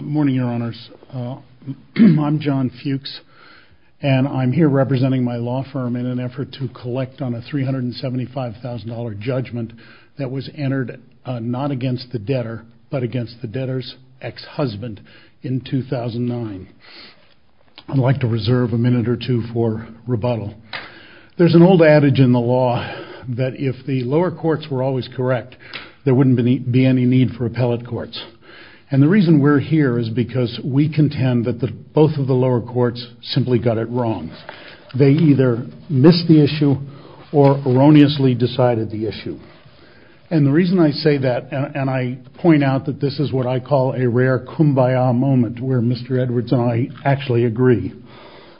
Morning, Your Honors. I'm John Fuchs, and I'm here representing my law firm in an effort to collect on a $375,000 judgment that was entered not against the debtor, but against the debtor's ex-husband in 2009. I'd like to reserve a minute or two for rebuttal. There's an old adage in the law that if the lower courts were always correct, there wouldn't be any need for appellate courts. And the reason we're here is because we contend that both of the lower courts simply got it wrong. They either missed the issue or erroneously decided the issue. And the reason I say that, and I point out that this is what I call a agree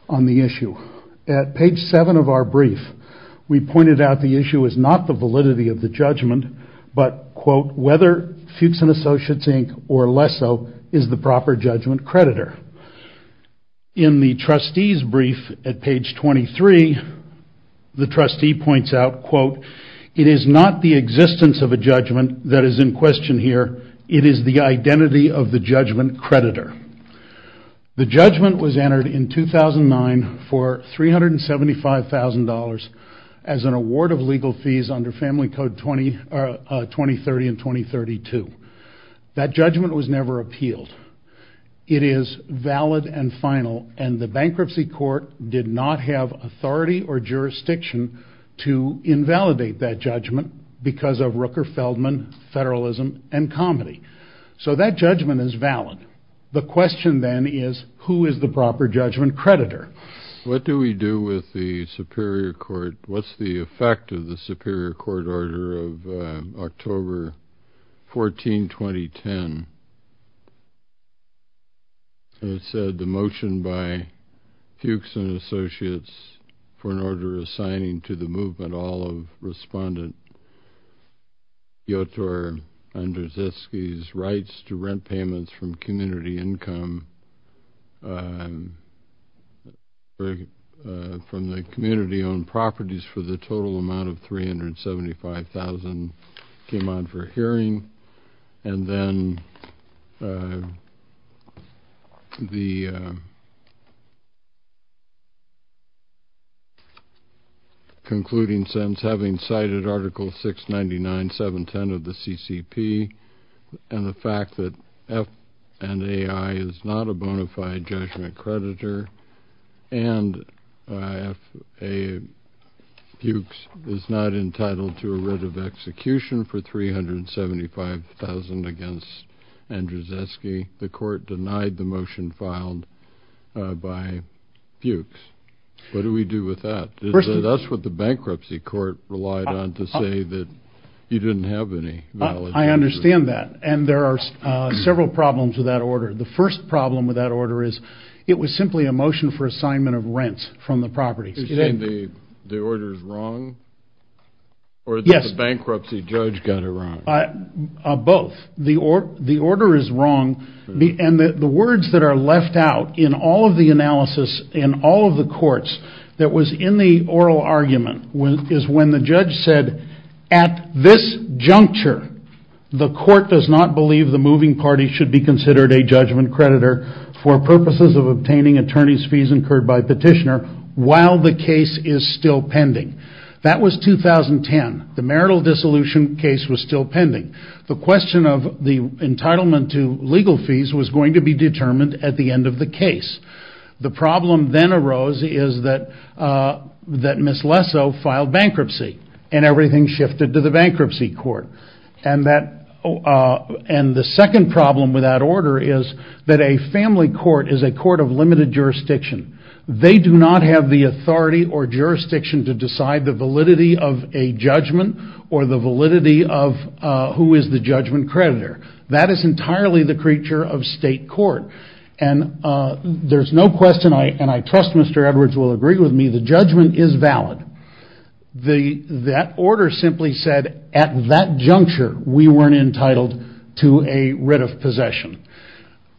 on the issue. At page 7 of our brief, we pointed out the issue is not the validity of the judgment, but, quote, whether Fuchs & Associates, Inc. or Lesso is the proper judgment creditor. In the trustee's brief at page 23, the trustee points out, quote, it is not the existence of a judgment that is in question here. It is the identity of a judgment. The judgment was entered in 2009 for $375,000 as an award of legal fees under Family Code 20, er, 2030 and 2032. That judgment was never appealed. It is valid and final, and the bankruptcy court did not have authority or jurisdiction to invalidate that judgment because of Rooker-Feldman federalism and comedy. So that judgment is valid. The question then is, who is the proper judgment creditor? What do we do with the superior court? What's the effect of the superior court order of October 14, 2010? It said the motion by Fuchs & Associates for an order assigning to the movement all of Respondent Yotar Andrzejewski's rights to rent payments from community income, er, from the community-owned properties for the total amount of $375,000 came on for hearing, and then the concluding sentence having cited Article 699.710 of the CCP and the fact that F&AI is not a bona fide judgment creditor and F&AI Fuchs is not entitled to a writ of execution for $375,000 against Andrzejewski, the court denied the motion filed by Fuchs. What do we do with that? That's what the bankruptcy court relied on to say that you didn't have any. I understand that, and there are several problems with that order. The first problem with that order is it was simply a motion for assignment of rents from the properties. You're saying the order is wrong? Yes. Or the bankruptcy judge got it wrong? Both. The order is wrong, and the words that are left out in all of the analysis in all of the courts that was in the oral argument is when the judge said, at this juncture, the court does not believe the moving party should be considered a judgment creditor for purposes of obtaining attorney's fees incurred by petitioner while the case is still pending. That was 2010. The marital dissolution case was still pending. The question of the entitlement to legal fees was going to be determined at the end of the case. The problem then arose is that Ms. Lessow filed bankruptcy, and everything shifted to the bankruptcy court. The second problem with that order is that a family court is a court of limited jurisdiction. They do not have the authority or jurisdiction to decide the judgment creditor. That is entirely the creature of state court. There's no question, and I trust Mr. Edwards will agree with me, the judgment is valid. That order simply said at that juncture, we weren't entitled to a writ of possession.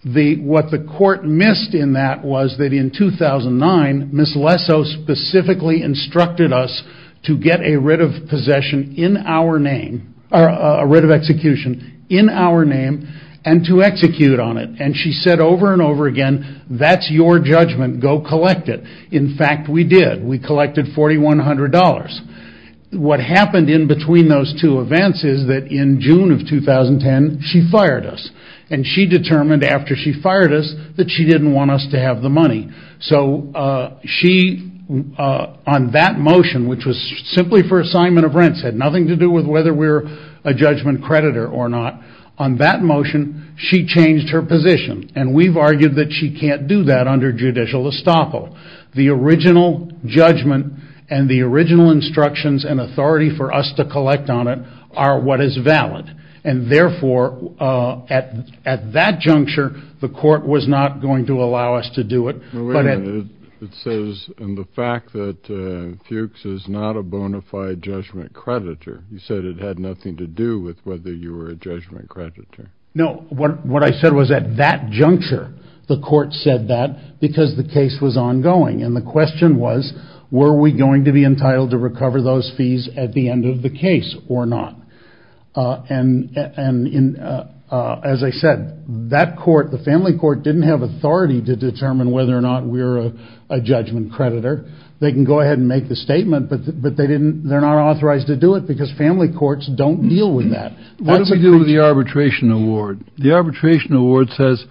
What the court missed in that was that in 2009, Ms. Lessow specifically instructed us to get a writ of possession in our name, or a writ of execution in our name, and to execute on it. She said over and over again, that's your judgment, go collect it. In fact, we did. We collected $4,100. What happened in between those two events is that in June of 2010, she fired us. She determined after she fired us that she didn't want us to have the money. On that motion, which was simply for assignment of rents, had nothing to do with whether we're a judgment creditor or not. On that motion, she changed her position. We've argued that she can't do that under judicial estoppel. The original judgment and the original instructions and authority for us to collect on it are what is valid. Therefore, at that juncture, the court was not going to allow us to do it. Wait a minute. It says, in the fact that Fuchs is not a bona fide judgment creditor, you said it had nothing to do with whether you were a judgment creditor. No. What I said was at that juncture, the court said that because the case was ongoing. The question was, were we going to be entitled to recover those fees at the end of the case or not? As I said, that court, the family court, didn't have authority to determine whether or not we're a judgment creditor. They can go ahead and make the statement, but they're not authorized to do it because family courts don't deal with that. What do we do with the arbitration award? The arbitration award says,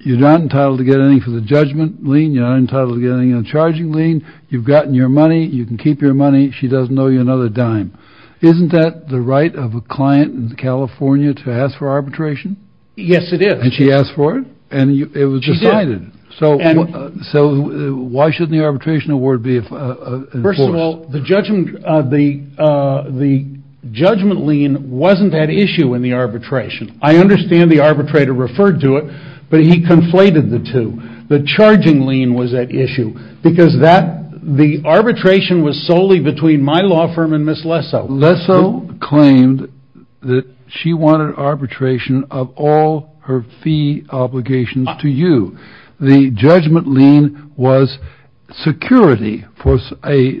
you're not entitled to get any for the judgment lien. You're not entitled to get any on the charging lien. You've gotten your money. You can keep your money. She doesn't owe you another dime. Isn't that the right of a client in California to ask for arbitration? Yes, it is. She asked for it, and it was decided. Why shouldn't the arbitration award be enforced? First of all, the judgment lien wasn't at issue in the arbitration. I understand the arbitrator referred to it, but he conflated the two. The charging lien was at issue because the arbitration was solely between my law firm and Ms. Lessow. Lessow claimed that she wanted arbitration of all her fee obligations to you. The judgment lien was security for a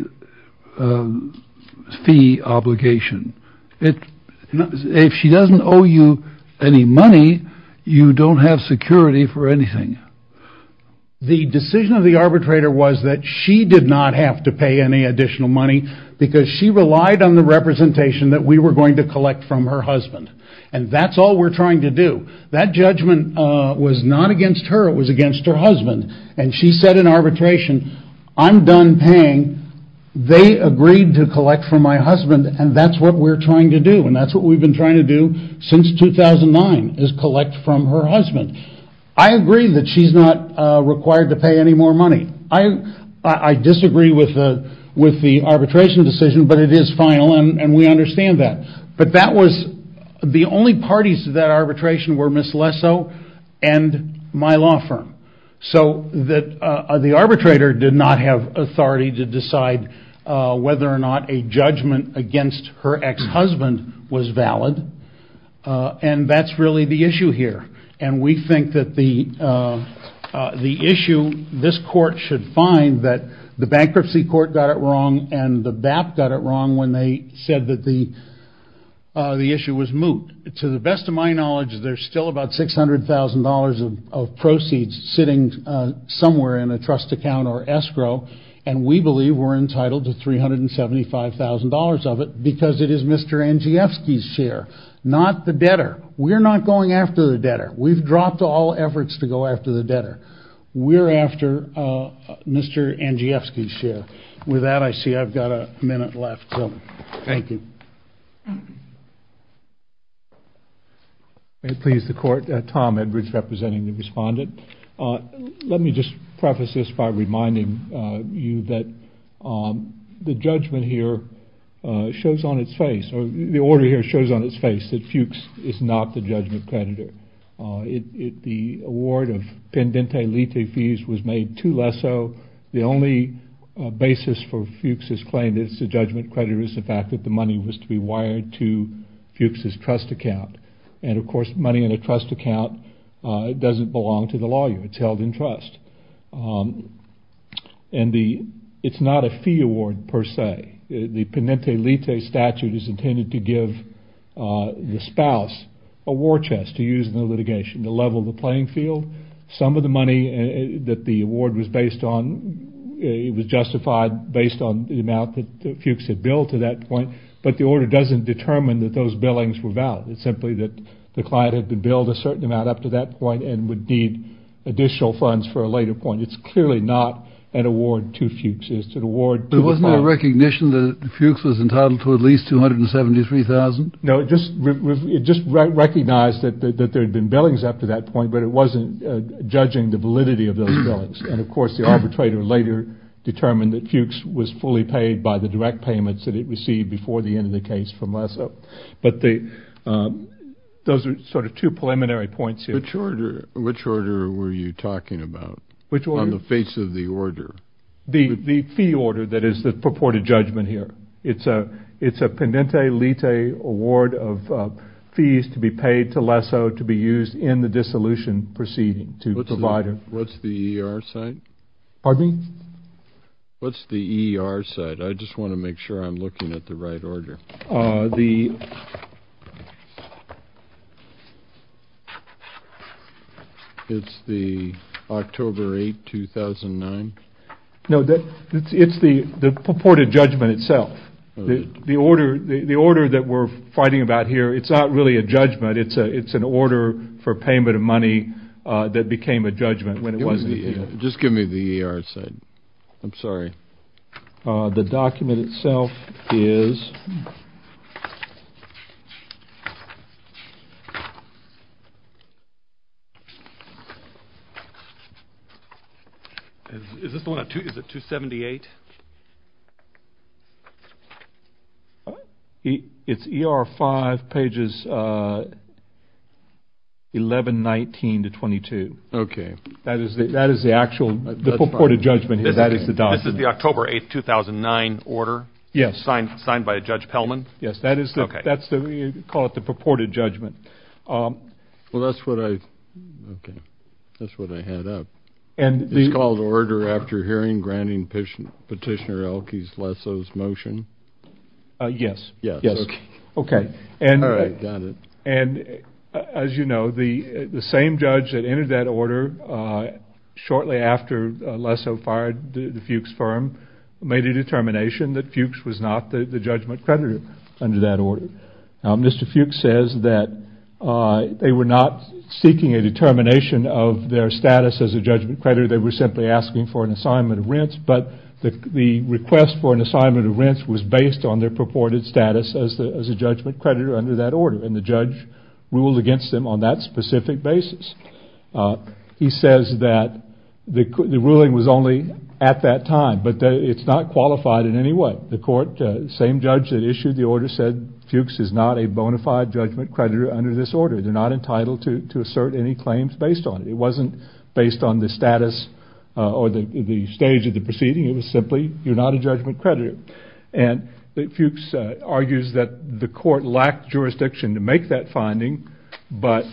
fee obligation. If she doesn't owe you any money, you don't have security for anything. The decision of the arbitrator was that she did not have to pay any additional money because she relied on the representation that we were going to collect from her husband. That's all we're trying to do. That judgment was not against her. It was against her husband. She said in arbitration, I'm done paying. They agreed to collect from my husband, and that's what we're trying to do. That's what we've been trying to do since 2009, is collect from her husband. I agree that she's not required to pay any more money. I disagree with the arbitration decision, but it is final, and we understand that. The only parties to that arbitration were Ms. Lessow and my law firm. The arbitrator did not have authority to decide whether or not a judgment against her ex-husband was valid, and that's really the issue here. We think that the issue this court should find that the bankruptcy court got it wrong and the BAP got it wrong when they said that the issue was moot. To the best of my knowledge, there's still about $600,000 of proceeds sitting somewhere in a trust account or escrow, and we believe we're entitled to $375,000 of it because it is Mr. Andrzejewski's share, not the debtor. We're not going after the debtor. We've dropped all efforts to go after the debtor. I think I've got a minute left, so thank you. May it please the Court, Tom Edwards representing the Respondent. Let me just preface this by reminding you that the judgment here shows on its face, or the order here shows on its face, that Fuchs is not the judgment creditor. The award of pendente lite fees was made to basis for Fuchs's claim that it's the judgment creditor is the fact that the money was to be wired to Fuchs's trust account, and of course money in a trust account doesn't belong to the lawyer. It's held in trust. It's not a fee award per se. The pendente lite statute is intended to give the spouse a war chest to use in the litigation to level the playing field. It's justified based on the amount that Fuchs had billed to that point, but the order doesn't determine that those billings were valid. It's simply that the client had been billed a certain amount up to that point and would need additional funds for a later point. It's clearly not an award to Fuchs. It's an award to the client. There wasn't a recognition that Fuchs was entitled to at least $273,000? No, it just recognized that there had been billings up to that point, but it wasn't judging the validity of those billings, and of course the arbitrator later determined that Fuchs was fully paid by the direct payments that it received before the end of the case from Lesseau. But those are sort of two preliminary points here. Which order were you talking about on the face of the order? The fee order that is the purported judgment here. It's a pendente lite award of fees to be paid to Lesseau to be used in the dissolution proceeding to the provider. What's the ER side? Pardon me? What's the ER side? I just want to make sure I'm looking at the right order. It's the October 8, 2009? No, it's the purported judgment itself. The order that we're fighting about here, it's not really a judgment, it's an order for payment of money that became a judgment when it wasn't a fee order. Just give me the ER side. I'm sorry. The document itself is... Is this the one at 278? It's ER 5, pages 1119 to 22. That is the actual purported judgment. This is the October 8, 2009 order signed by Judge Pellman? Yes, that's what we call the purported judgment. Well, that's what I had up. It's called Order After Hearing Granting Patient Payment. Petitioner Elke's, Lesseau's motion? Yes. All right, got it. As you know, the same judge that entered that order shortly after Lesseau fired the Fuchs firm made a determination that Fuchs was not the judgment creditor under that order. Mr. Fuchs says that they were not seeking a determination of their status as a judgment creditor, but the request for an assignment of rents was based on their purported status as a judgment creditor under that order, and the judge ruled against them on that specific basis. He says that the ruling was only at that time, but it's not qualified in any way. The court, the same judge that issued the order, said Fuchs is not a bona fide judgment creditor under this order. They're not entitled to assert any claims based on it. It wasn't based on the status or the stage of the proceeding. It was simply, you're not a judgment creditor, and Fuchs argues that the court lacked jurisdiction to make that finding, but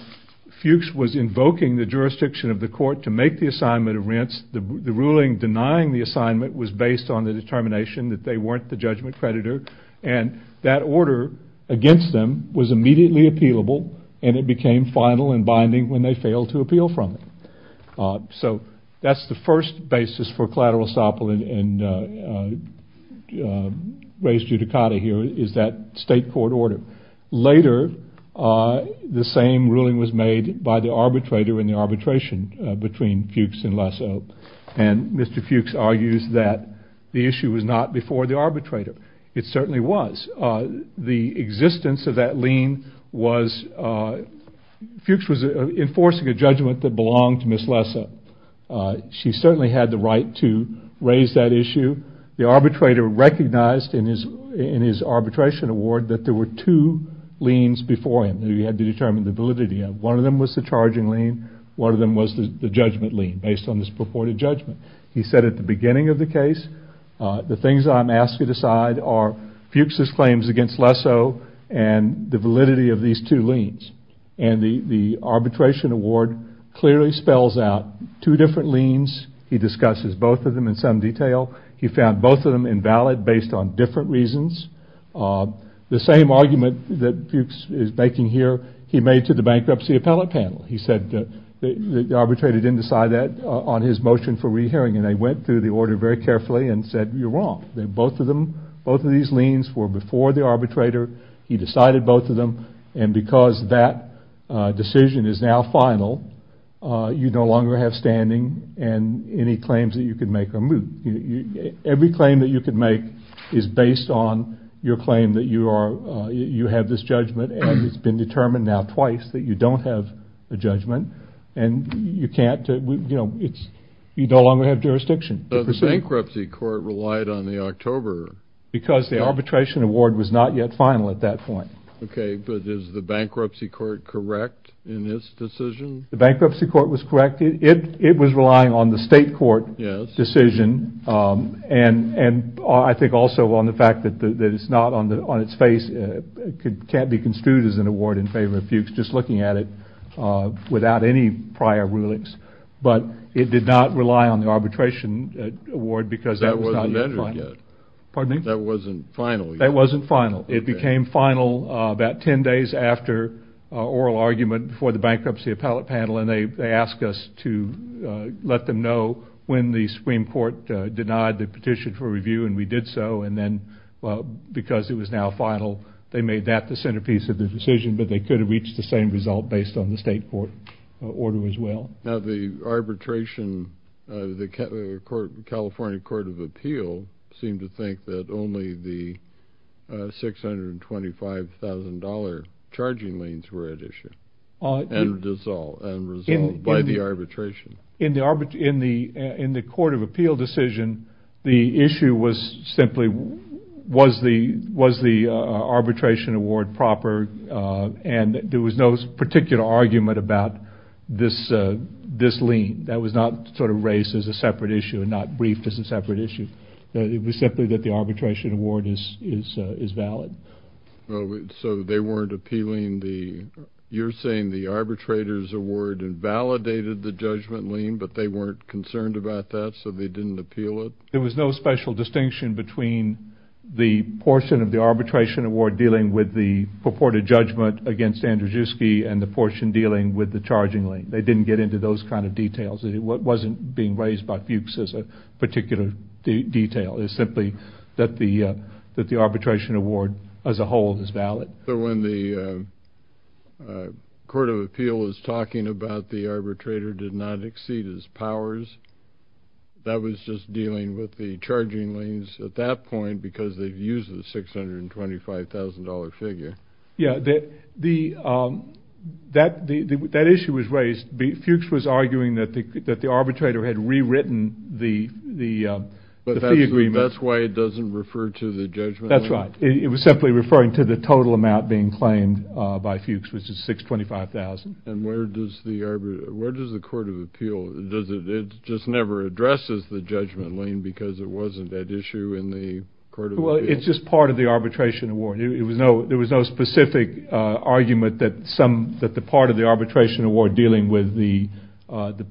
Fuchs was invoking the jurisdiction of the court to make the assignment of rents. The ruling denying the assignment was based on the determination that they weren't the judgment creditor, and that order against them was immediately appealable, and it became final and binding when they failed to appeal from it. So that's the first basis for collateral estoppel and res judicata here, is that state court order. Later, the same ruling was made by the arbitrator in the arbitration between Fuchs and Lasso, and Mr. Fuchs argues that the issue was not before the arbitrator. It certainly was. The existence of that lien was, Fuchs was enforcing a judgment that belonged to Ms. Lasso. She certainly had the right to raise that issue. The arbitrator recognized in his arbitration award that there were two liens before him that he had to determine the validity of. One of them was the charging lien, one of them was the judgment lien, based on this purported judgment. He said at the beginning of the case, the things I'm asking to decide are Fuchs's claims against Lasso and the validity of these two liens. And the arbitration award clearly spells out two different liens. He discusses both of them in some detail. He found both of them invalid based on different reasons. The same argument that Fuchs is making here, he made to the bankruptcy appellate panel. He said the arbitrator didn't decide that on his motion for re-hearing, and they went through the order very carefully and said, you're wrong. Both of these liens were before the arbitrator. He decided both of them, and because that decision is now final, you no longer have standing and any claims that you could make are moot. Every claim that you could make is based on your claim that you have this judgment, and it's been determined now twice that you don't have a judgment. And you can't, you know, it's, you no longer have jurisdiction. So the bankruptcy court relied on the October. Because the arbitration award was not yet final at that point. Okay, but is the bankruptcy court correct in this decision? The bankruptcy court was correct. It was relying on the state court decision, and I think also on the fact that it's not on its face, it can't be construed as an award in favor of Fuchs, just looking at it without any prior rulings. But it did not rely on the arbitration award because that was not yet final. That wasn't measured yet. Pardon me? That wasn't final yet. That wasn't final. Okay. It became final about 10 days after oral argument before the bankruptcy appellate panel, and they asked us to let them know when the Supreme Court denied the petition for review, and we did so. And then because it was now final, they made that the centerpiece of the decision, but they could have reached the same result based on the state court order as well. Now the arbitration, the California Court of Appeal seemed to think that only the $625,000 charging liens were at issue and resolved by the arbitration. In the Court of Appeal decision, the issue was simply, was the arbitration award proper, and there was no particular argument about this lien. That was not sort of raised as a separate issue and not briefed as a separate issue. It was simply that the arbitration award is valid. So they weren't appealing the, you're saying the arbitrators award invalidated the judgment lien, but they weren't concerned about that, so they didn't appeal it? There was no special distinction between the portion of the arbitration award dealing with the purported judgment against Andrzejewski and the portion dealing with the charging lien. They didn't get into those kind of details. What wasn't being raised by Fuchs as a particular detail is simply that the arbitration award as a whole is valid. So when the Court of Appeal was talking about the arbitrator did not exceed his powers, that was just dealing with the charging liens at that point because they've used the $625,000 figure. Yeah, the, that issue was raised, Fuchs was arguing that the arbitrator had rewritten the fee agreement. That's why it doesn't refer to the judgment lien? That's right. It was simply referring to the total amount being claimed by Fuchs, which is $625,000. And where does the, where does the Court of Appeal, does it, it just never addresses the judgment lien because it wasn't that issue in the Court of Appeal? Well, it's just part of the arbitration award. It was no, there was no specific argument that some, that the part of the arbitration award dealing with the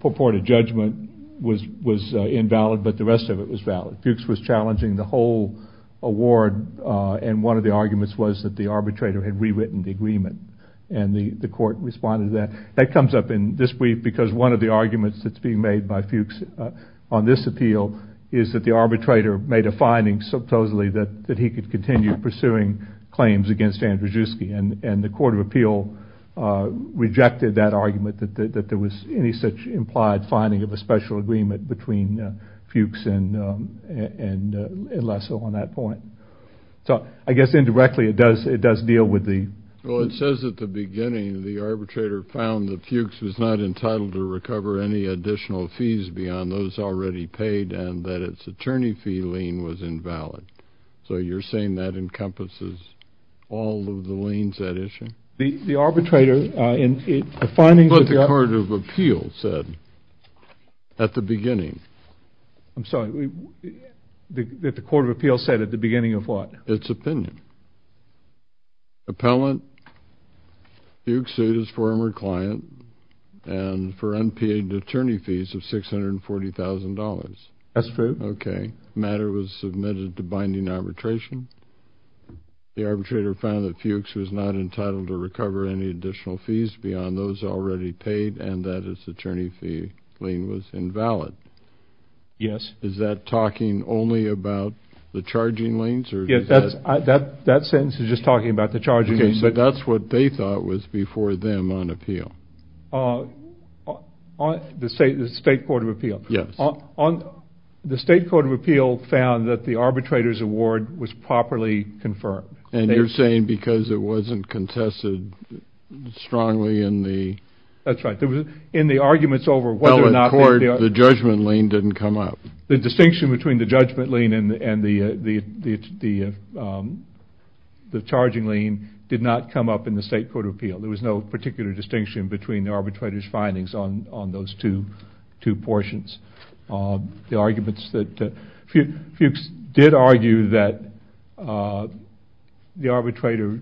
purported judgment was invalid, but the rest of it was valid. Fuchs was challenging the whole award and one of the arguments was that the arbitrator had rewritten the agreement and the Court responded to that. That comes up in this brief because one of the arguments that's being made by Fuchs on this appeal is that the arbitrator made a finding supposedly that he could continue pursuing claims against Andrzejewski and the Court of Appeal rejected that argument that there was any such implied finding of a special agreement between Fuchs and Lesseau on that point. So, I guess indirectly, it does, it does deal with the... Well, it says at the beginning, the arbitrator found that Fuchs was not entitled to recover any additional fees beyond those already paid and that its attorney fee lien was invalid. So you're saying that encompasses all of the liens, that issue? The arbitrator, uh, in the findings of the... What the Court of Appeal said at the beginning. I'm sorry, the, that the Court of Appeal said at the beginning of what? Its opinion. Appellant, Fuchs sued his former client and for unpaid attorney fees of $640,000. That's true. Okay. Matter was submitted to binding arbitration. The arbitrator found that Fuchs was not entitled to recover any additional fees beyond those already paid and that its attorney fee lien was invalid. Yes. Is that talking only about the charging liens or... Yes, that's, that sentence is just talking about the charging liens. Okay, so that's what they thought was before them on appeal. Uh, on, the State, the State Court of Appeal. Yes. On, on, the State Court of Appeal found that the arbitrator's award was properly confirmed. And you're saying because it wasn't contested strongly in the... That's right. In the arguments over whether or not... Well, the Court, the judgment lien didn't come up. The distinction between the judgment lien and the, and the, the, the, um, the charging lien did not come up in the State Court of Appeal. There was no particular distinction between the arbitrator's findings on, on those two, two portions. Um, the arguments that, uh, Fuchs, Fuchs did argue that, uh, the arbitrator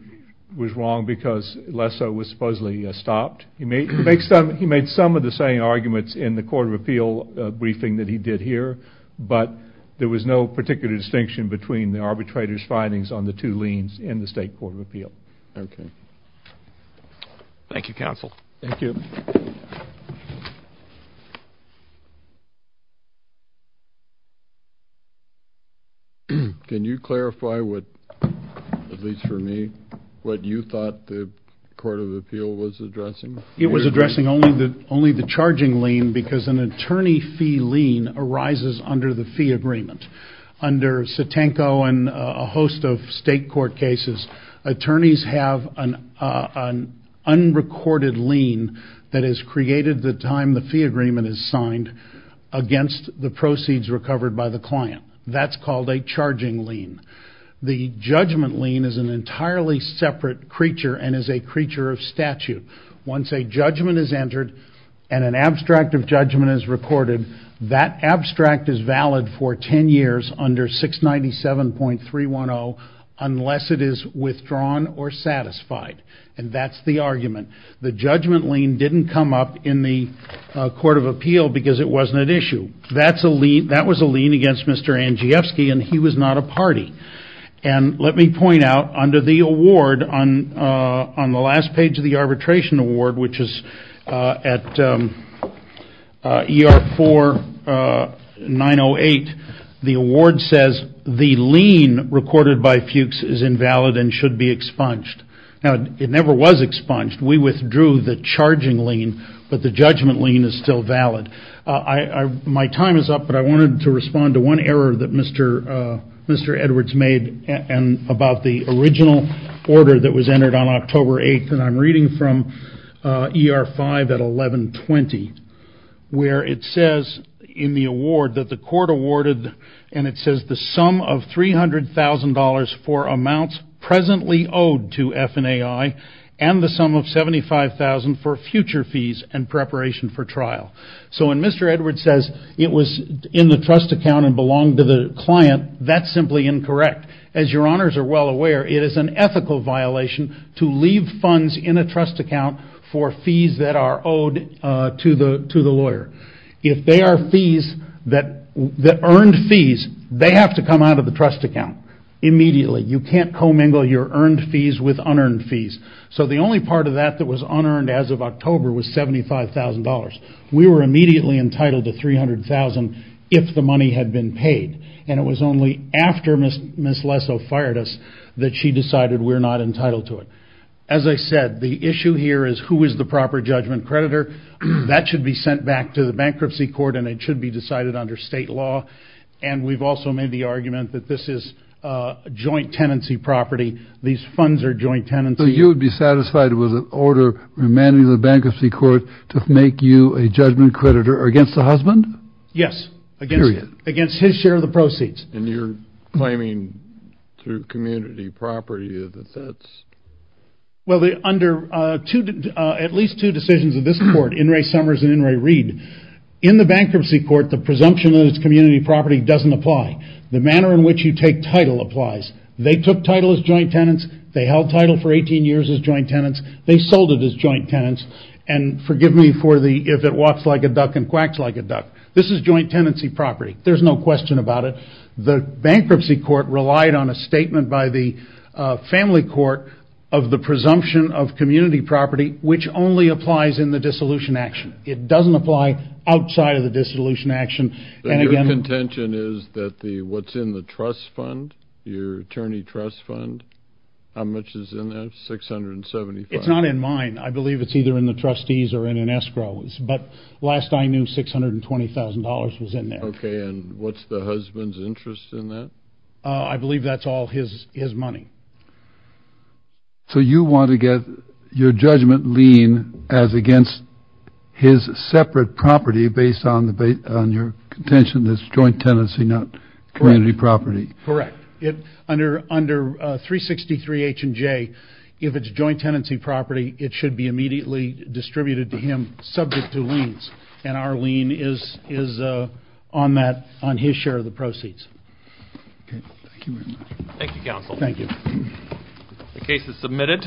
was wrong because less so was supposedly, uh, stopped. He made, he made some, he made some of the same arguments in the Court of Appeal, uh, briefing that he did here, but there was no particular distinction between the arbitrator's findings on the two liens in the State Court of Appeal. Okay. Thank you, counsel. Thank you. Thank you. Can you clarify what, at least for me, what you thought the Court of Appeal was addressing? It was addressing only the, only the charging lien because an attorney fee lien arises under the fee agreement. Under Setenko and, uh, a host of state court cases, attorneys have an, uh, an unrecorded lien that is created the time the fee agreement is signed against the proceeds recovered by the client. That's called a charging lien. The judgment lien is an entirely separate creature and is a creature of statute. Once a judgment is entered and an abstract of judgment is recorded, that abstract is under 697.310 unless it is withdrawn or satisfied. And that's the argument. The judgment lien didn't come up in the, uh, Court of Appeal because it wasn't an issue. That's a lien, that was a lien against Mr. Andrzejewski and he was not a party. And let me point out under the award on, uh, on the last page of the arbitration award, which is, uh, at, um, uh, ER 4, uh, 908, the award says the lien recorded by Fuchs is invalid and should be expunged. Now, it never was expunged. We withdrew the charging lien, but the judgment lien is still valid. Uh, I, I, my time is up, but I wanted to respond to one error that Mr., uh, Mr. Edwards made and about the original order that was entered on October 8th. And I'm reading from, uh, ER 5 at 1120, where it says in the award that the court awarded, and it says the sum of $300,000 for amounts presently owed to FNAI and the sum of $75,000 for future fees and preparation for trial. So when Mr. Edwards says it was in the trust account and belonged to the client, that's simply incorrect. As your honors are well aware, it is an ethical violation to leave funds in a trust account for fees that are owed, uh, to the, to the lawyer. If they are fees that, that earned fees, they have to come out of the trust account immediately. You can't co-mingle your earned fees with unearned fees. So the only part of that that was unearned as of October was $75,000. We were immediately entitled to $300,000 if the money had been paid. And it was only after Ms. Lesso fired us that she decided we're not entitled to it. As I said, the issue here is who is the proper judgment creditor. That should be sent back to the bankruptcy court and it should be decided under state law. And we've also made the argument that this is, uh, joint tenancy property. These funds are joint tenancy. So you would be satisfied it was an order remanded to the bankruptcy court to make you a judgment creditor against the husband? Yes. Period. Against his share of the proceeds. And you're claiming through community property that that's... Well, under, uh, two, uh, at least two decisions of this court, In re Summers and In re Reed, in the bankruptcy court, the presumption that it's community property doesn't apply. The manner in which you take title applies. They took title as joint tenants. They held title for 18 years as joint tenants. They sold it as joint tenants. And forgive me for the, if it walks like a duck and quacks like a duck. This is joint tenancy property. There's no question about it. The bankruptcy court relied on a statement by the, uh, family court of the presumption of community property, which only applies in the dissolution action. It doesn't apply outside of the dissolution action. And again... Your contention is that the, what's in the trust fund, your attorney trust fund, how much is in that? 675? It's not in mine. I believe it's either in the trustees or in an escrow. But last I knew, $620,000 was in there. Okay. And what's the husband's interest in that? I believe that's all his, his money. So you want to get your judgment lien as against his separate property based on the, on your contention, this joint tenancy, not community property. Correct. It, under, under, uh, 363 H and J, if it's joint tenancy property, it should be immediately distributed to him subject to liens. And our lien is, is, uh, on that, on his share of the proceeds. Okay. Thank you very much. Thank you, counsel. Thank you. The case is submitted.